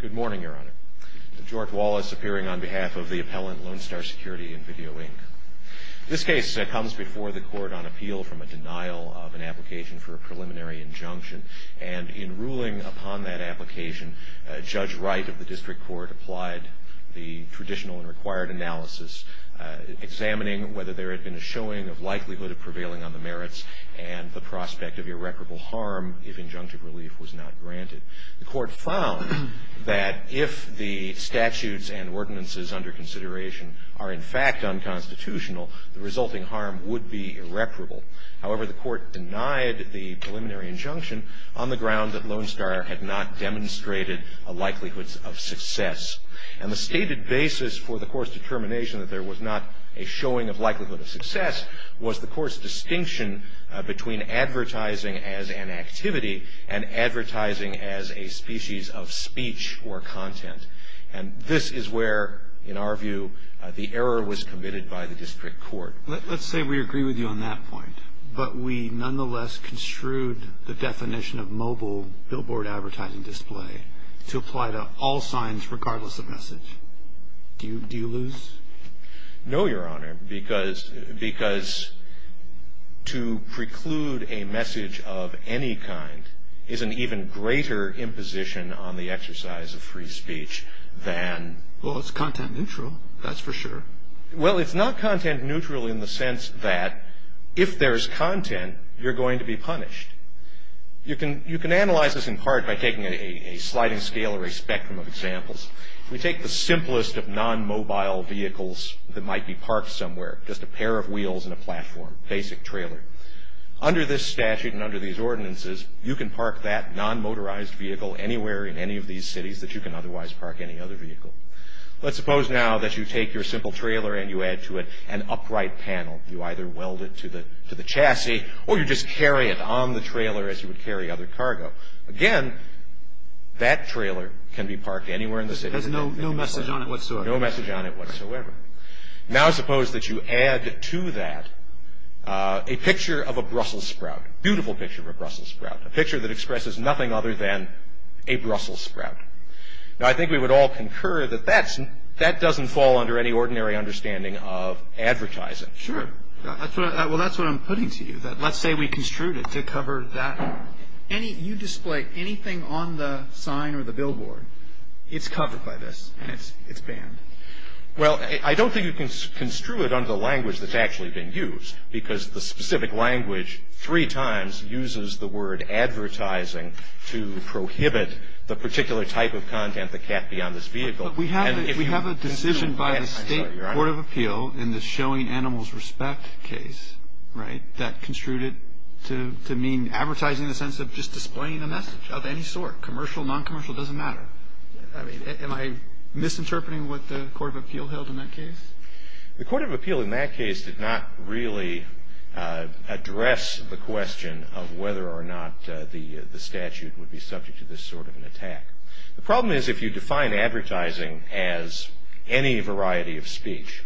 Good morning, Your Honor. George Wallace appearing on behalf of the appellant Lone Star Security and Video, Inc. This case comes before the court on appeal from a denial of an application for a preliminary injunction, and in ruling upon that application, Judge Wright of the District Court applied the traditional and required analysis, examining whether there had been a showing of likelihood of prevailing on the merits and the prospect of irreparable harm if injunctive relief was not granted. The court found that if the statutes and ordinances under consideration are in fact unconstitutional, the resulting harm would be irreparable. However, the court denied the preliminary injunction on the ground that Lone Star had not demonstrated a likelihood of success. And the stated basis for the court's determination that there was not a showing of likelihood of success was the court's distinction between advertising as an activity and advertising as a species of speech or content. And this is where, in our view, the error was committed by the District Court. Let's say we agree with you on that point, but we nonetheless construed the definition of mobile billboard advertising display to apply to all signs regardless of message. Do you lose? No, Your Honor, because to preclude a message of any kind is an even greater imposition on the exercise of free speech than... Well, it's content neutral. That's for sure. Well, it's not content neutral in the sense that if there's content, you're going to be punished. You can analyze this in part by taking a sliding scale or a spectrum of examples. We take the simplest of non-mobile vehicles that might be parked somewhere, just a pair of wheels and a platform, basic trailer. Under this statute and under these ordinances, you can park that non-motorized vehicle anywhere in any of these cities that you can otherwise park any other vehicle. Let's suppose now that you take your simple trailer and you add to it an upright panel. You either weld it to the chassis or you just carry it on the trailer as you would carry other cargo. Again, that trailer can be parked anywhere in the city. There's no message on it whatsoever. No message on it whatsoever. Now, suppose that you add to that a picture of a Brussels sprout, beautiful picture of a Brussels sprout, a picture that expresses nothing other than a Brussels sprout. Now, I think we would all concur that that doesn't fall under any ordinary understanding of advertising. Sure. Well, that's what I'm putting to you, that let's say we construed it to cover that. You display anything on the sign or the billboard, it's covered by this and it's banned. Well, I don't think you can construe it under the language that's actually been used because the specific language three times uses the word advertising to prohibit the particular type of content that can't be on this vehicle. We have a decision by the State Court of Appeal in the showing animals respect case, right, to mean advertising in the sense of just displaying a message of any sort, commercial, non-commercial, doesn't matter. Am I misinterpreting what the Court of Appeal held in that case? The Court of Appeal in that case did not really address the question of whether or not the statute would be subject to this sort of an attack. The problem is if you define advertising as any variety of speech,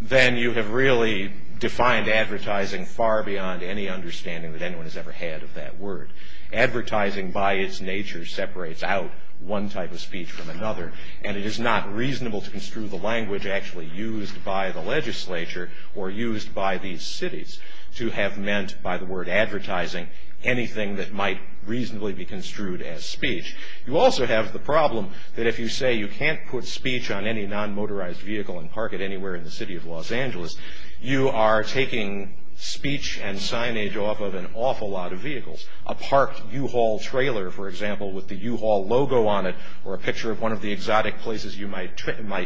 then you have really defined advertising far beyond any understanding that anyone has ever had of that word. Advertising by its nature separates out one type of speech from another and it is not reasonable to construe the language actually used by the legislature or used by these cities to have meant by the word advertising anything that might reasonably be construed as speech. You also have the problem that if you say you can't put speech on any non-motorized vehicle and park it anywhere in the city of Los Angeles, you are taking speech and signage off of an awful lot of vehicles. A parked U-Haul trailer, for example, with the U-Haul logo on it or a picture of one of the exotic places you might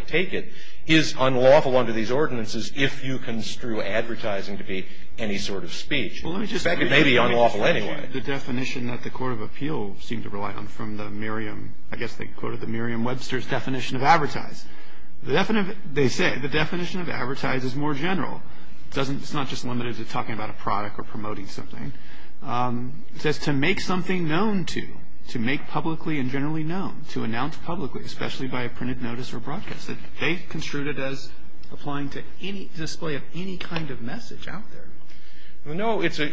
take it is unlawful under these ordinances if you construe advertising to be any sort of speech. It may be unlawful anyway. The definition that the Court of Appeal seemed to rely on from the Merriam, I guess they quoted the Merriam-Webster's definition of advertise. They say the definition of advertise is more general. It's not just limited to talking about a product or promoting something. It says to make something known to, to make publicly and generally known, to announce publicly, especially by a printed notice or broadcast. They construed it as applying to any display of any kind of message out there. No, it's a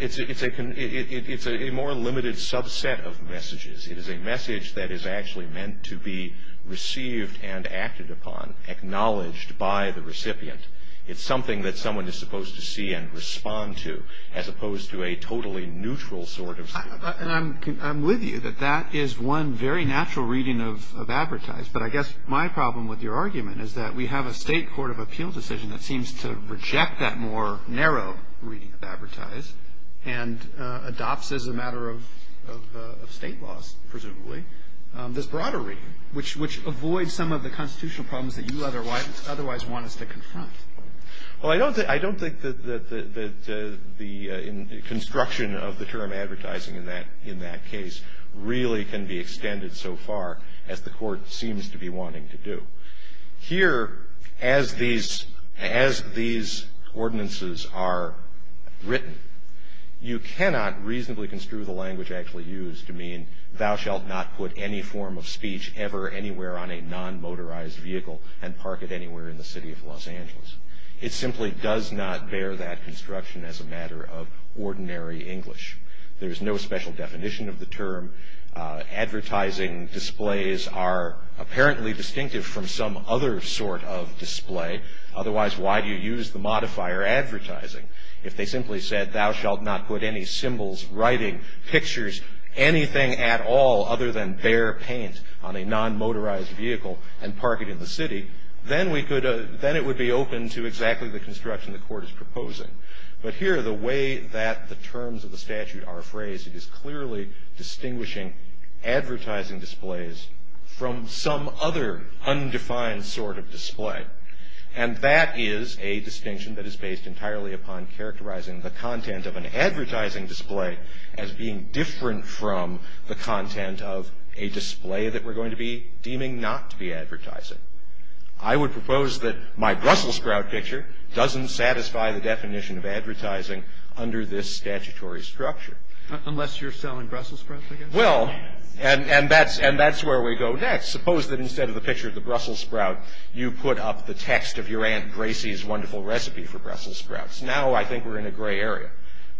more limited subset of messages. It is a message that is actually meant to be received and acted upon, acknowledged by the recipient. It's something that someone is supposed to see and respond to as opposed to a totally neutral sort of speech. And I'm with you that that is one very natural reading of advertise, but I guess my problem with your argument is that we have a State Court of Appeal decision that seems to reject that more narrow reading of advertise and adopts as a matter of State laws, presumably, this broader reading, which avoids some of the constitutional problems that you otherwise want us to confront. Well, I don't think that the construction of the term advertising in that case really can be extended so far as the Court seems to be wanting to do. Here, as these ordinances are written, you cannot reasonably construe the language actually used to mean, thou shalt not put any form of speech ever anywhere on a non-motorized vehicle and park it anywhere in the city of Los Angeles. It simply does not bear that construction as a matter of ordinary English. There is no special definition of the term. Advertising displays are apparently distinctive from some other sort of display. Otherwise, why do you use the modifier advertising? If they simply said, thou shalt not put any symbols, writing, pictures, anything at all other than bare paint on a non-motorized vehicle and park it in the city, then we could – then it would be open to exactly the construction the Court is proposing. But here, the way that the terms of the statute are phrased, it is clearly distinguishing advertising displays from some other undefined sort of display. And that is a distinction that is based entirely upon characterizing the content of an advertising display as being different from the content of a display that we're going to be deeming not to be advertising. I would propose that my Brussels sprout picture doesn't satisfy the definition of advertising under this statutory structure. Unless you're selling Brussels sprouts, I guess. Well, and that's where we go next. Suppose that instead of the picture of the Brussels sprout, you put up the text of your Aunt Gracie's wonderful recipe for Brussels sprouts. Now, I think we're in a gray area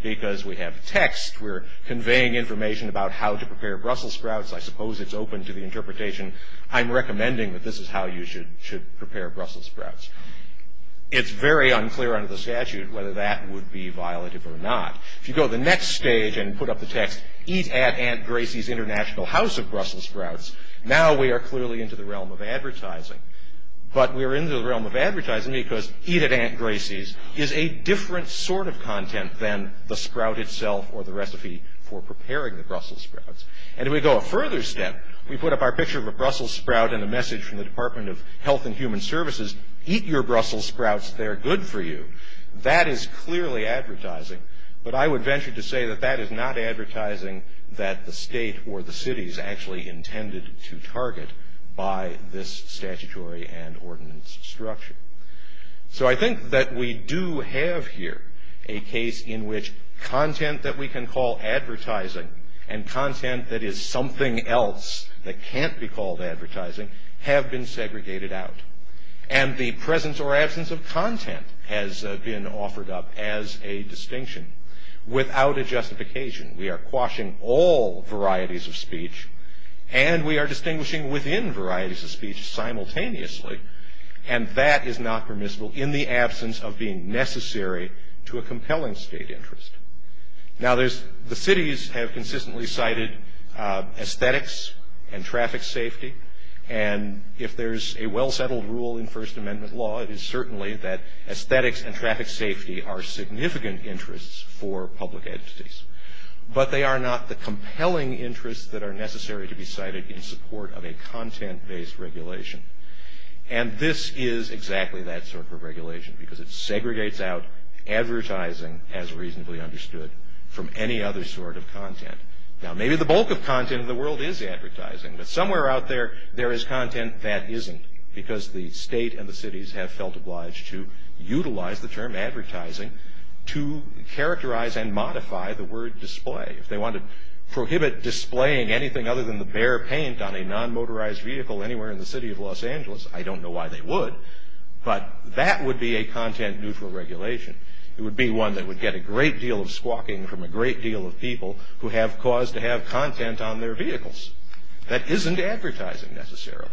because we have text. We're conveying information about how to prepare Brussels sprouts. I suppose it's open to the interpretation, I'm recommending that this is how you should prepare Brussels sprouts. It's very unclear under the statute whether that would be violative or not. If you go to the next stage and put up the text, eat at Aunt Gracie's International House of Brussels sprouts, now we are clearly into the realm of advertising. But we're in the realm of advertising because eat at Aunt Gracie's is a different sort of content than the sprout itself or the recipe for preparing the Brussels sprouts. And if we go a further step, we put up our picture of a Brussels sprout and a message from the Department of Health and Human Services, eat your Brussels sprouts, they're good for you. That is clearly advertising. But I would venture to say that that is not advertising that the state or the cities actually intended to target by this statutory and ordinance structure. So I think that we do have here a case in which content that we can call advertising and content that is something else that can't be called advertising have been segregated out. And the presence or absence of content has been offered up as a distinction without a justification. We are quashing all varieties of speech and we are distinguishing within varieties of speech simultaneously and that is not permissible in the absence of being necessary to a compelling state interest. Now the cities have consistently cited aesthetics and traffic safety and if there's a well-settled rule in First Amendment law, it is certainly that aesthetics and traffic safety are significant interests for public entities. But they are not the compelling interests that are necessary to be cited in support of a content-based regulation. And this is exactly that sort of regulation because it segregates out advertising as reasonably understood from any other sort of content. Now maybe the bulk of content in the world is advertising but somewhere out there, there is content that isn't because the state and the cities have felt obliged to utilize the term advertising to characterize and modify the word display. If they want to prohibit displaying anything other than the bare paint on a non-motorized vehicle anywhere in the city of Los Angeles, I don't know why they would. But that would be a content-neutral regulation. It would be one that would get a great deal of squawking from a great deal of people who have cause to have content on their vehicles. That isn't advertising necessarily.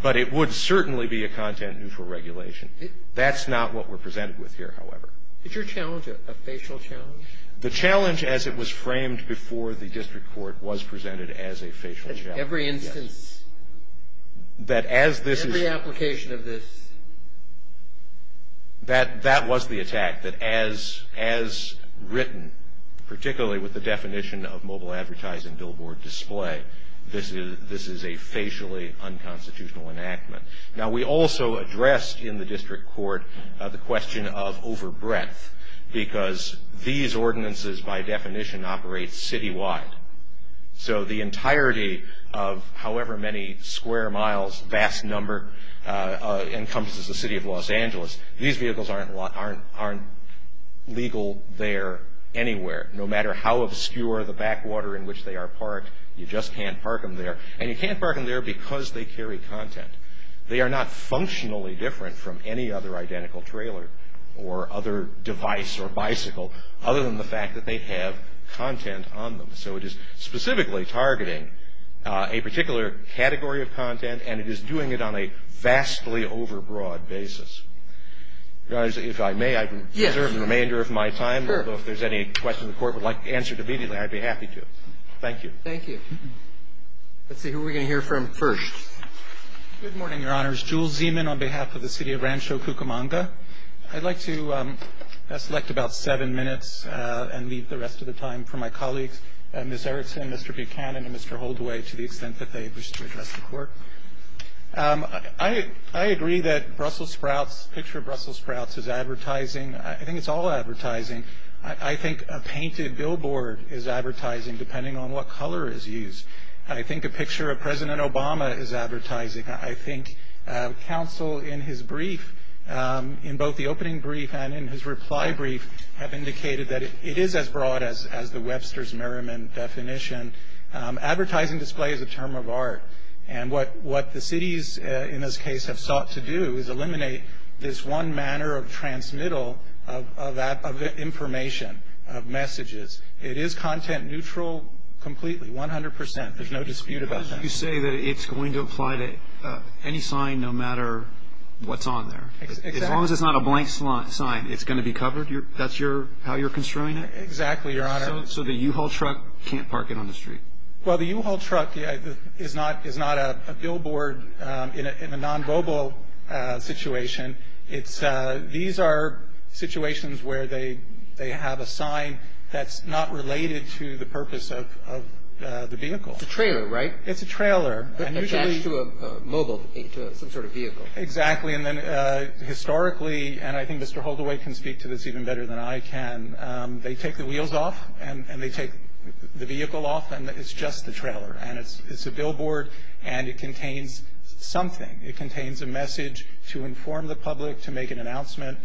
But it would certainly be a content-neutral regulation. That's not what we're presented with here, however. Is your challenge a facial challenge? The challenge as it was framed before the district court was presented as a facial challenge. Every instance. That as this is. Every application of this. That was the attack. That as written, particularly with the definition of mobile advertising billboard display, this is a facially unconstitutional enactment. Now we also addressed in the district court the question of over breadth because these ordinances by definition operate citywide. So the entirety of however many square miles, vast number, encompasses the city of Los Angeles. These vehicles aren't legal there anywhere. No matter how obscure the backwater in which they are parked, you just can't park them there. And you can't park them there because they carry content. They are not functionally different from any other identical trailer or other device or bicycle other than the fact that they have content on them. So it is specifically targeting a particular category of content. And it is doing it on a vastly over broad basis. If I may, I can reserve the remainder of my time. If there's any questions the court would like answered immediately, I'd be happy to. Thank you. Thank you. Let's see who we're going to hear from first. Good morning, Your Honors. Jules Zeman on behalf of the city of Rancho Cucamonga. I'd like to select about seven minutes and leave the rest of the time for my colleagues, Ms. Erickson, Mr. Buchanan, and Mr. Holdaway to the extent that they wish to address the court. I agree that the picture of Brussels sprouts is advertising. I think it's all advertising. I think a painted billboard is advertising depending on what color is used. I think a picture of President Obama is advertising. I think counsel in his brief, in both the opening brief and in his reply brief, have indicated that it is as broad as the Webster's Merriman definition. Advertising display is a term of art. And what the cities in this case have sought to do is eliminate this one manner of transmittal of information, of messages. It is content neutral completely, 100%. There's no dispute about that. You say that it's going to apply to any sign no matter what's on there. As long as it's not a blank sign, it's going to be covered? That's how you're construing it? Exactly, Your Honor. So the U-Haul truck can't park it on the street? Well, the U-Haul truck is not a billboard in a non-global situation. These are situations where they have a sign that's not related to the purpose of the vehicle. It's a trailer, right? It's a trailer. But attached to a mobile, some sort of vehicle. Exactly. And then historically, and I think Mr. Holderway can speak to this even better than I can, they take the wheels off and they take the vehicle off and it's just the trailer. And it's a billboard and it contains something. It contains a message to inform the public, to make an announcement.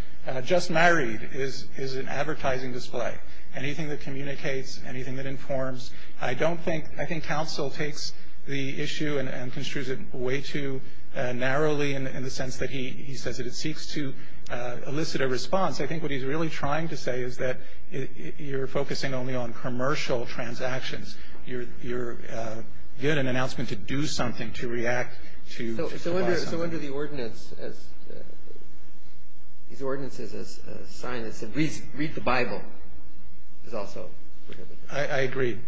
Just married is an advertising display. Anything that communicates, anything that informs. I don't think, I think counsel takes the issue and construes it way too narrowly in the sense that he says that it seeks to elicit a response. I think what he's really trying to say is that you're focusing only on commercial transactions. You're giving an announcement to do something, to react, to provide something. So under the ordinance, these ordinances, a sign that said, Read the Bible, is also prohibited. I agree.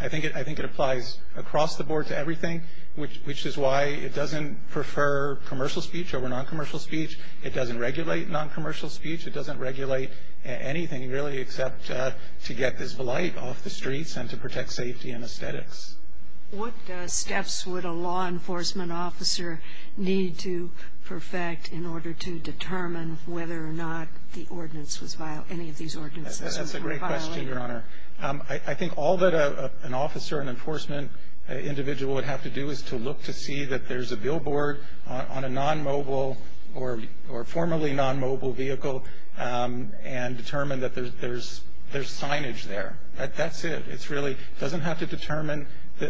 I think it applies across the board to everything, which is why it doesn't prefer commercial speech over non-commercial speech. It doesn't regulate non-commercial speech. It doesn't regulate anything really except to get this blight off the streets and to protect safety and aesthetics. What steps would a law enforcement officer need to perfect in order to determine whether or not the ordinance was, any of these ordinances were violated? That's a great question, Your Honor. I think all that an officer, an enforcement individual would have to do is to look to see that there's a billboard on a non-mobile or formerly non-mobile vehicle and determine that there's signage there. That's it. It really doesn't have to determine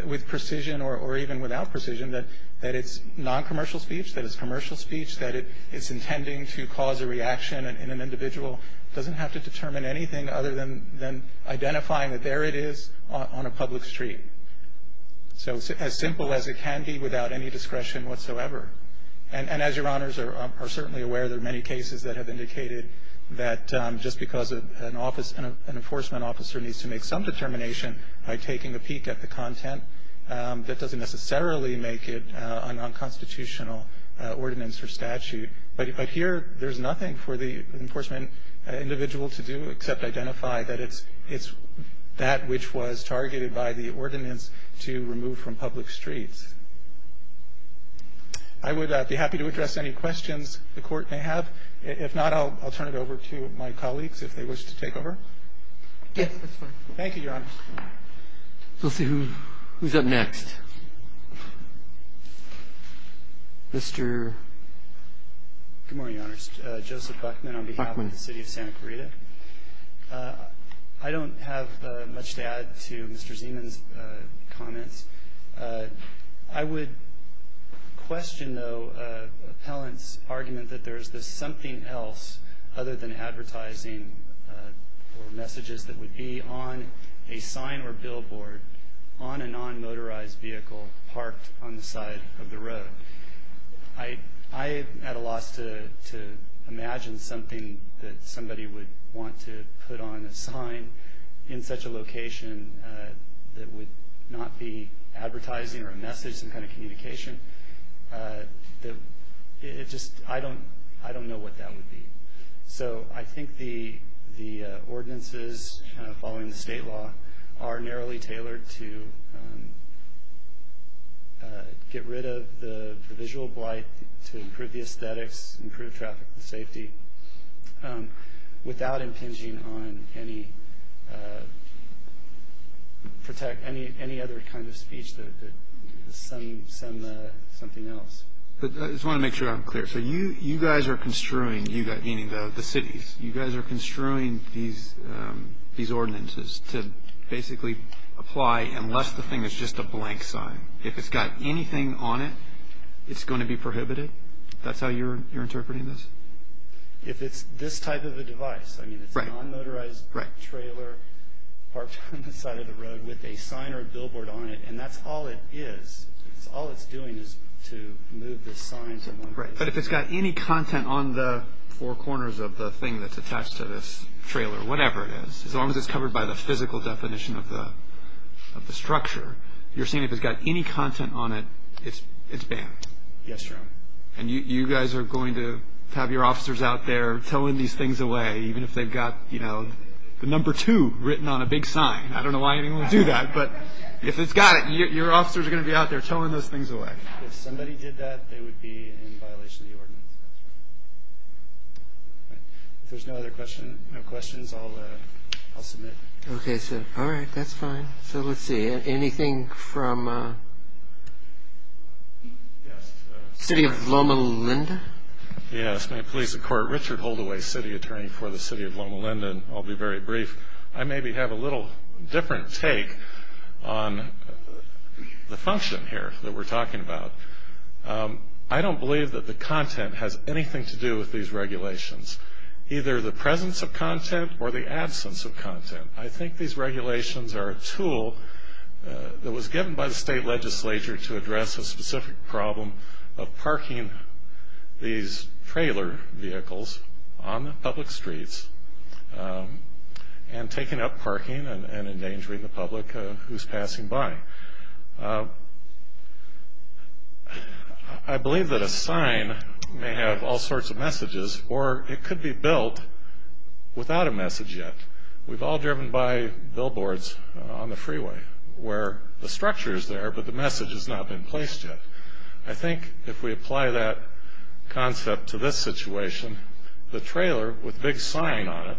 with precision or even without precision that it's non-commercial speech, that it's commercial speech, that it's intending to cause a reaction in an individual. It doesn't have to determine anything other than identifying that there it is on a public street. So as simple as it can be without any discretion whatsoever. And as Your Honors are certainly aware, there are many cases that have indicated that just because an office, an enforcement officer needs to make some determination by taking a peek at the content, that doesn't necessarily make it a non-constitutional ordinance or statute. But here there's nothing for the enforcement individual to do except identify that it's that which was targeted by the ordinance to remove from public streets. I would be happy to address any questions the Court may have. If not, I'll turn it over to my colleagues if they wish to take over. Thank you, Your Honor. We'll see who's up next. Mr. Good morning, Your Honors. Joseph Buckman on behalf of the city of Santa Clarita. I don't have much to add to Mr. Zeman's comments. I would question, though, appellant's argument that there is this something else other than advertising or messages that would be on a sign or billboard on a non-motorized vehicle parked on the side of the road. I've had a loss to imagine something that somebody would want to put on a sign in such a location that would not be advertising or a message, some kind of communication. I don't know what that would be. So I think the ordinances following the state law are narrowly tailored to get rid of the visual blight, to improve the aesthetics, improve traffic safety without impinging on any other kind of speech that is something else. I just want to make sure I'm clear. So you guys are construing, meaning the cities, you guys are construing these ordinances to basically apply unless the thing is just a blank sign. If it's got anything on it, it's going to be prohibited? That's how you're interpreting this? If it's this type of a device, I mean, it's a non-motorized trailer parked on the side of the road with a sign or a billboard on it, and that's all it is, all it's doing is to move the sign to one place. But if it's got any content on the four corners of the thing that's attached to this trailer, whatever it is, as long as it's covered by the physical definition of the structure, you're saying if it's got any content on it, it's banned? Yes, Your Honor. And you guys are going to have your officers out there towing these things away, even if they've got the number two written on a big sign. I don't know why anyone would do that, but if it's got it, your officers are going to be out there towing those things away. If somebody did that, they would be in violation of the ordinance. If there's no other questions, I'll submit. Okay, so, all right, that's fine. So let's see, anything from City of Loma Linda? Yes, my name is Richard Holdaway, City Attorney for the City of Loma Linda, and I'll be very brief. I maybe have a little different take on the function here that we're talking about. I don't believe that the content has anything to do with these regulations, either the presence of content or the absence of content. I think these regulations are a tool that was given by the state legislature to address a specific problem of parking these trailer vehicles on public streets and taking up parking and endangering the public who's passing by. I believe that a sign may have all sorts of messages, or it could be built without a message yet. We've all driven by billboards on the freeway where the structure is there, but the message has not been placed yet. I think if we apply that concept to this situation, the trailer with the big sign on it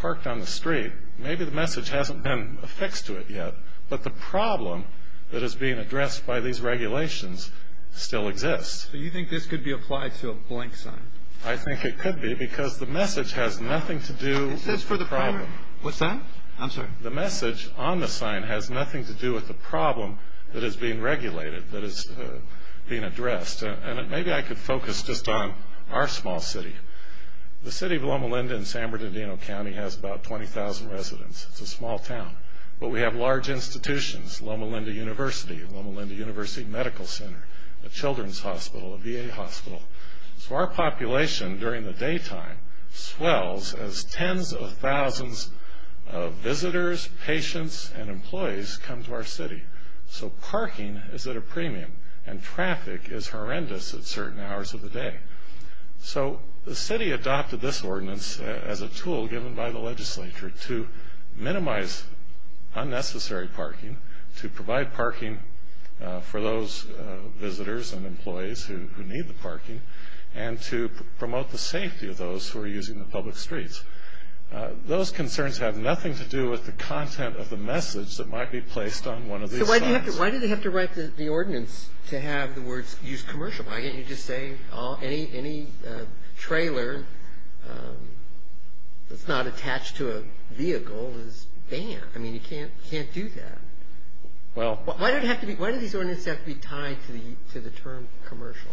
parked on the street, maybe the message hasn't been affixed to it yet, but the problem that is being addressed by these regulations still exists. So you think this could be applied to a blank sign? I think it could be because the message has nothing to do with the problem. It says for the problem. What's that? I'm sorry. The message on the sign has nothing to do with the problem that is being regulated, that is being addressed. Maybe I could focus just on our small city. The city of Loma Linda in San Bernardino County has about 20,000 residents. It's a small town, but we have large institutions. Loma Linda University, Loma Linda University Medical Center, a children's hospital, a VA hospital. So our population during the daytime swells as tens of thousands of visitors, patients, and employees come to our city. So parking is at a premium, and traffic is horrendous at certain hours of the day. So the city adopted this ordinance as a tool given by the legislature to minimize unnecessary parking, to provide parking for those visitors and employees who need the parking, and to promote the safety of those who are using the public streets. Those concerns have nothing to do with the content of the message that might be placed on one of these signs. So why do they have to write the ordinance to have the words used commercially? Why can't you just say any trailer that's not attached to a vehicle is banned? I mean, you can't do that. Why do these ordinances have to be tied to the term commercial?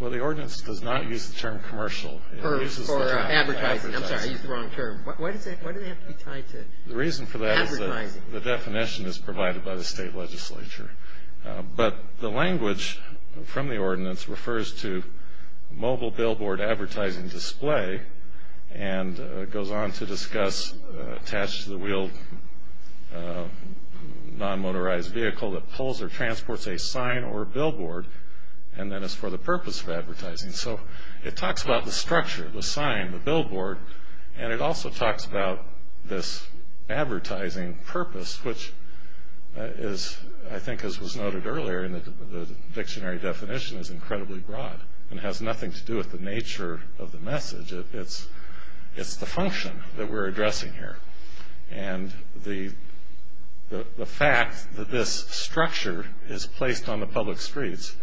Well, the ordinance does not use the term commercial. It uses the term advertising. I'm sorry, I used the wrong term. Why do they have to be tied to advertising? The reason for that is that the definition is provided by the state legislature. But the language from the ordinance refers to mobile billboard advertising display and goes on to discuss attached to the wheeled non-motorized vehicle that pulls or transports a sign or a billboard, and then it's for the purpose of advertising. So it talks about the structure, the sign, the billboard, and it also talks about this advertising purpose, which is, I think, as was noted earlier, the dictionary definition is incredibly broad and has nothing to do with the nature of the message. It's the function that we're addressing here. And the fact that this structure is placed on the public streets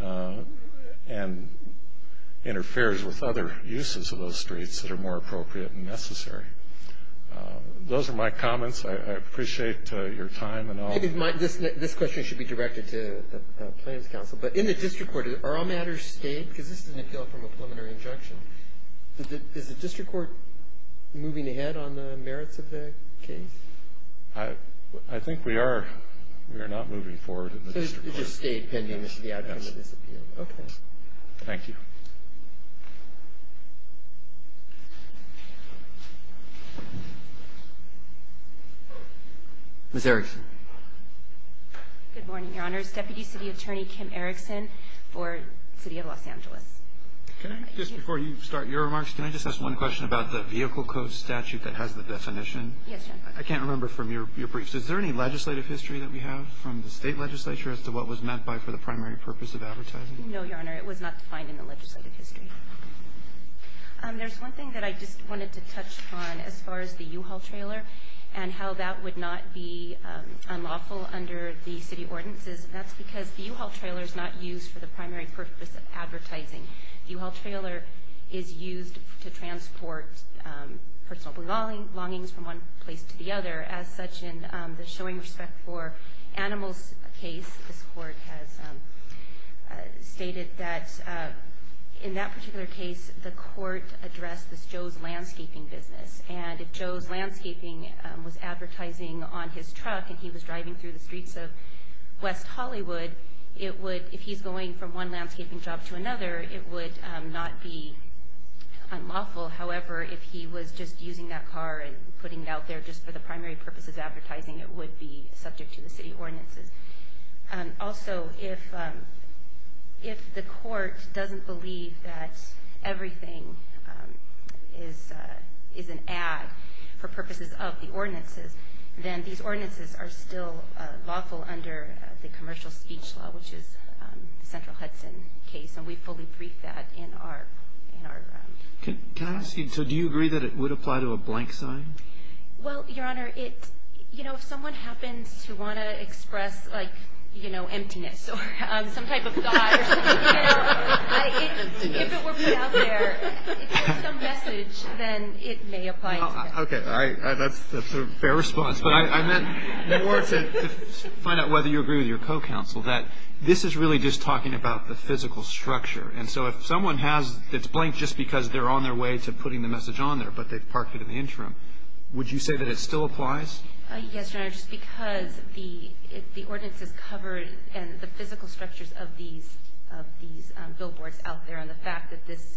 and interferes with other uses of those streets that are more appropriate and necessary. Those are my comments. I appreciate your time and all. This question should be directed to the Plans Council. But in the district court, are all matters stayed? Because this is an appeal from a preliminary injunction. Is the district court moving ahead on the merits of the case? I think we are. We are not moving forward in the district court. So it just stayed pending the outcome of this appeal. Yes. Okay. Thank you. Ms. Erickson. Good morning, Your Honors. Deputy City Attorney Kim Erickson for the City of Los Angeles. Just before you start your remarks, can I just ask one question about the vehicle code statute that has the definition? Yes. I can't remember from your briefs. Is there any legislative history that we have from the state legislature No, Your Honor. It was not defined in the legislative history. There's one thing that I just wanted to touch on as far as the U-Haul trailer and how that would not be unlawful under the city ordinances, and that's because the U-Haul trailer is not used for the primary purpose of advertising. The U-Haul trailer is used to transport personal belongings from one place to the other. As such, in the showing respect for animals case, this court has stated that in that particular case, the court addressed this Joe's landscaping business, and if Joe's landscaping was advertising on his truck and he was driving through the streets of West Hollywood, if he's going from one landscaping job to another, it would not be unlawful. However, if he was just using that car and putting it out there just for the primary purpose of advertising, it would be subject to the city ordinances. Also, if the court doesn't believe that everything is an ad for purposes of the ordinances, then these ordinances are still lawful under the commercial speech law, which is the Central Hudson case, and we fully brief that in our... So do you agree that it would apply to a blank sign? Well, Your Honor, if someone happens to want to express emptiness or some type of thought, if it were put out there, if there's some message, then it may apply to that. Okay, that's a fair response, but I meant more to find out whether you agree with your co-counsel that this is really just talking about the physical structure, and so if someone has this blank just because they're on their way to putting the message on there, but they've parked it in the interim, would you say that it still applies? Yes, Your Honor, just because the ordinances cover the physical structures of these billboards out there, and the fact that this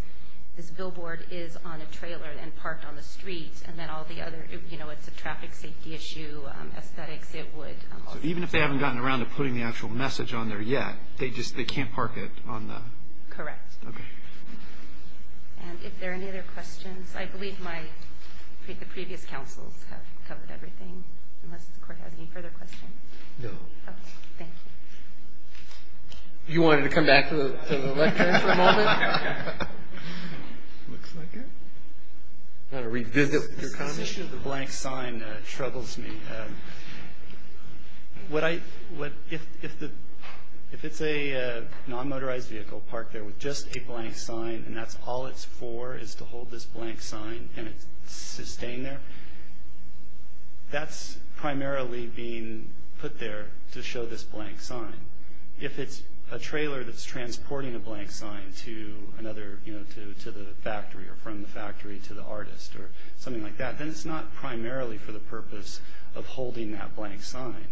billboard is on a trailer and parked on the street, and then all the other, you know, it's a traffic safety issue, aesthetics, it would... So even if they haven't gotten around to putting the actual message on there yet, they just can't park it on the... Correct. Okay. And if there are any other questions, I believe the previous counsels have covered everything, unless the Court has any further questions. No. Okay, thank you. You wanted to come back to the lectern for a moment? Looks like it. Got to revisit your comments. This issue of the blank sign troubles me. If it's a non-motorized vehicle parked there with just a blank sign, and that's all it's for is to hold this blank sign, and it's staying there, that's primarily being put there to show this blank sign. If it's a trailer that's transporting a blank sign to another, you know, to the factory, or from the factory to the artist, or something like that, then it's not primarily for the purpose of holding that blank sign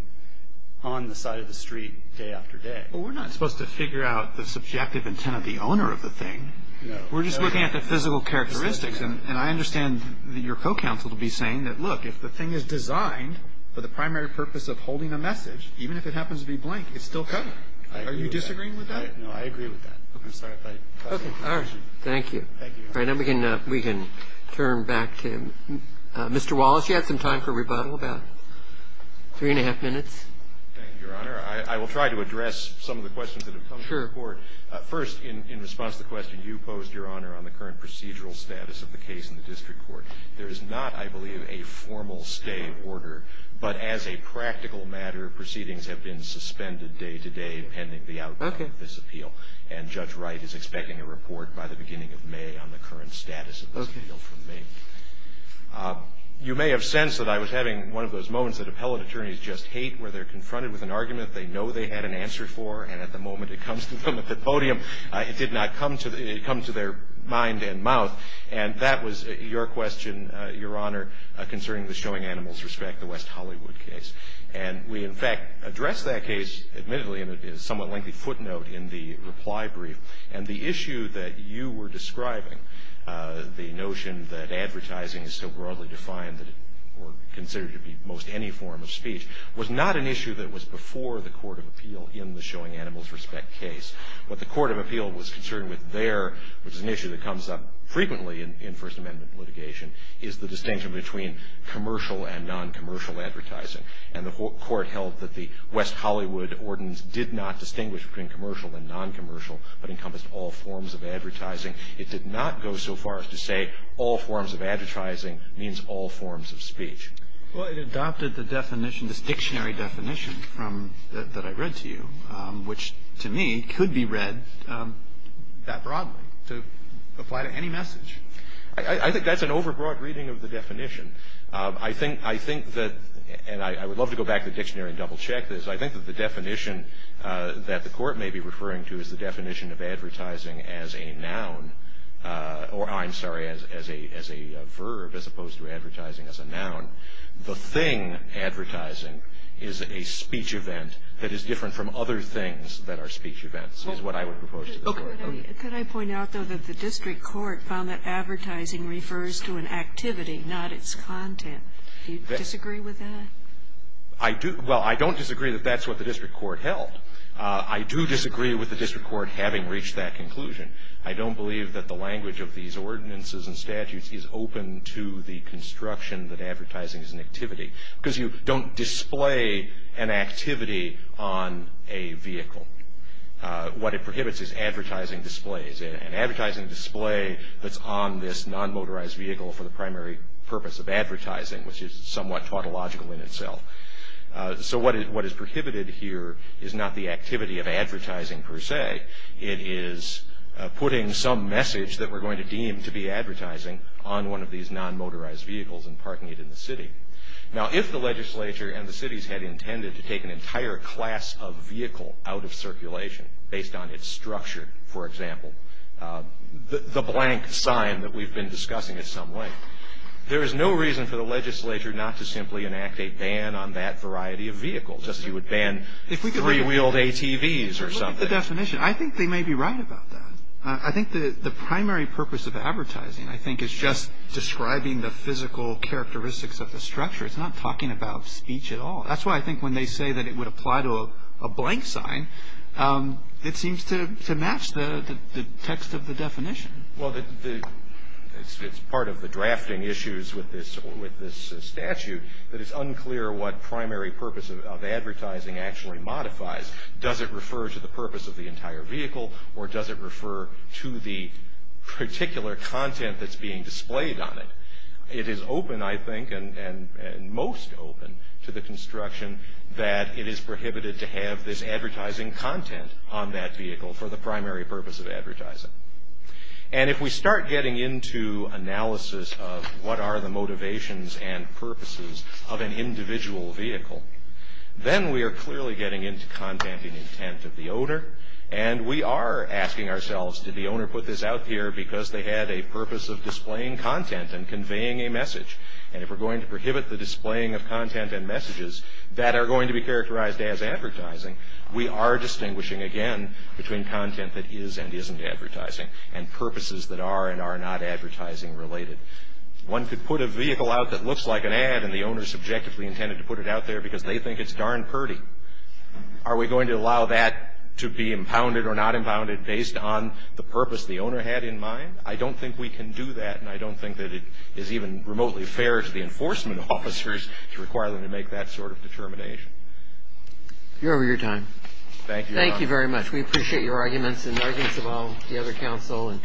on the side of the street day after day. Well, we're not supposed to figure out the subjective intent of the owner of the thing. No. We're just looking at the physical characteristics, and I understand your co-counsel to be saying that, look, if the thing is designed for the primary purpose of holding a message, even if it happens to be blank, it's still covered. Are you disagreeing with that? No, I agree with that. Okay. All right. Thank you. Thank you. All right. Now we can turn back to Mr. Wallace. You have some time for rebuttal, about three and a half minutes. Thank you, Your Honor. I will try to address some of the questions that have come to the Court. Sure. First, in response to the question you posed, Your Honor, on the current procedural status of the case in the district court, there is not, I believe, a formal stay of order, but as a practical matter, proceedings have been suspended day to day pending the outcome of this appeal, and Judge Wright is expecting a report by the beginning of May on the current status of this appeal from me. Okay. You may have sensed that I was having one of those moments that appellate attorneys just hate, where they're confronted with an argument they know they had an answer for, and at the moment it comes to them at the podium, it did not come to their mind and mouth. And that was your question, Your Honor, concerning the Showing Animals Respect, the West Hollywood case. And we, in fact, addressed that case, admittedly, in a somewhat lengthy footnote in the reply brief. And the issue that you were describing, the notion that advertising is so broadly defined that it were considered to be most any form of speech, was not an issue that was before the Court of Appeal in the Showing Animals Respect case. What the Court of Appeal was concerned with there, which is an issue that comes up frequently in First Amendment litigation, is the distinction between commercial and non-commercial advertising. And the Court held that the West Hollywood Ordinance did not distinguish between commercial and non-commercial, but encompassed all forms of advertising. It did not go so far as to say all forms of advertising means all forms of speech. Well, it adopted the definition, this dictionary definition that I read to you, which to me could be read that broadly to apply to any message. I think that's an overbroad reading of the definition. I think that, and I would love to go back to the dictionary and double check this, I think that the definition that the Court may be referring to is the definition of advertising as a noun, or I'm sorry, as a verb, as opposed to advertising as a noun. The thing advertising is a speech event that is different from other things that are speech events, is what I would propose to the Court. Could I point out, though, that the district court found that advertising refers to an activity, not its content. Do you disagree with that? I do. Well, I don't disagree that that's what the district court held. I do disagree with the district court having reached that conclusion. I don't believe that the language of these ordinances and statutes is open to the construction that advertising is an activity, because you don't display an activity on a vehicle. What it prohibits is advertising displays. An advertising display that's on this non-motorized vehicle for the primary purpose of advertising, which is somewhat tautological in itself. So what is prohibited here is not the activity of advertising per se. It is putting some message that we're going to deem to be advertising on one of these non-motorized vehicles and parking it in the city. Now, if the legislature and the cities had intended to take an entire class of the blank sign that we've been discussing in some way, there is no reason for the legislature not to simply enact a ban on that variety of vehicles, just as you would ban three-wheeled ATVs or something. Look at the definition. I think they may be right about that. I think the primary purpose of advertising, I think, is just describing the physical characteristics of the structure. It's not talking about speech at all. That's why I think when they say that it would apply to a blank sign, it seems to match the text of the definition. Well, it's part of the drafting issues with this statute that it's unclear what primary purpose of advertising actually modifies. Does it refer to the purpose of the entire vehicle, or does it refer to the particular content that's being displayed on it? It is open, I think, and most open to the construction that it is prohibited to have this advertising content on that vehicle for the primary purpose of advertising. And if we start getting into analysis of what are the motivations and purposes of an individual vehicle, then we are clearly getting into content and intent of the owner, and we are asking ourselves, did the owner put this out here because they had a purpose of displaying content and conveying a message? And if we're going to prohibit the displaying of content and messages that are going to be characterized as advertising, we are distinguishing, again, between content that is and isn't advertising and purposes that are and are not advertising related. One could put a vehicle out that looks like an ad, and the owner is subjectively intended to put it out there because they think it's darn purdy. Are we going to allow that to be impounded or not impounded based on the purpose the owner had in mind? I don't think we can do that, and I don't think that it is even remotely fair to the You're over your time. Thank you. Thank you very much. We appreciate your arguments and arguments about the other counsel.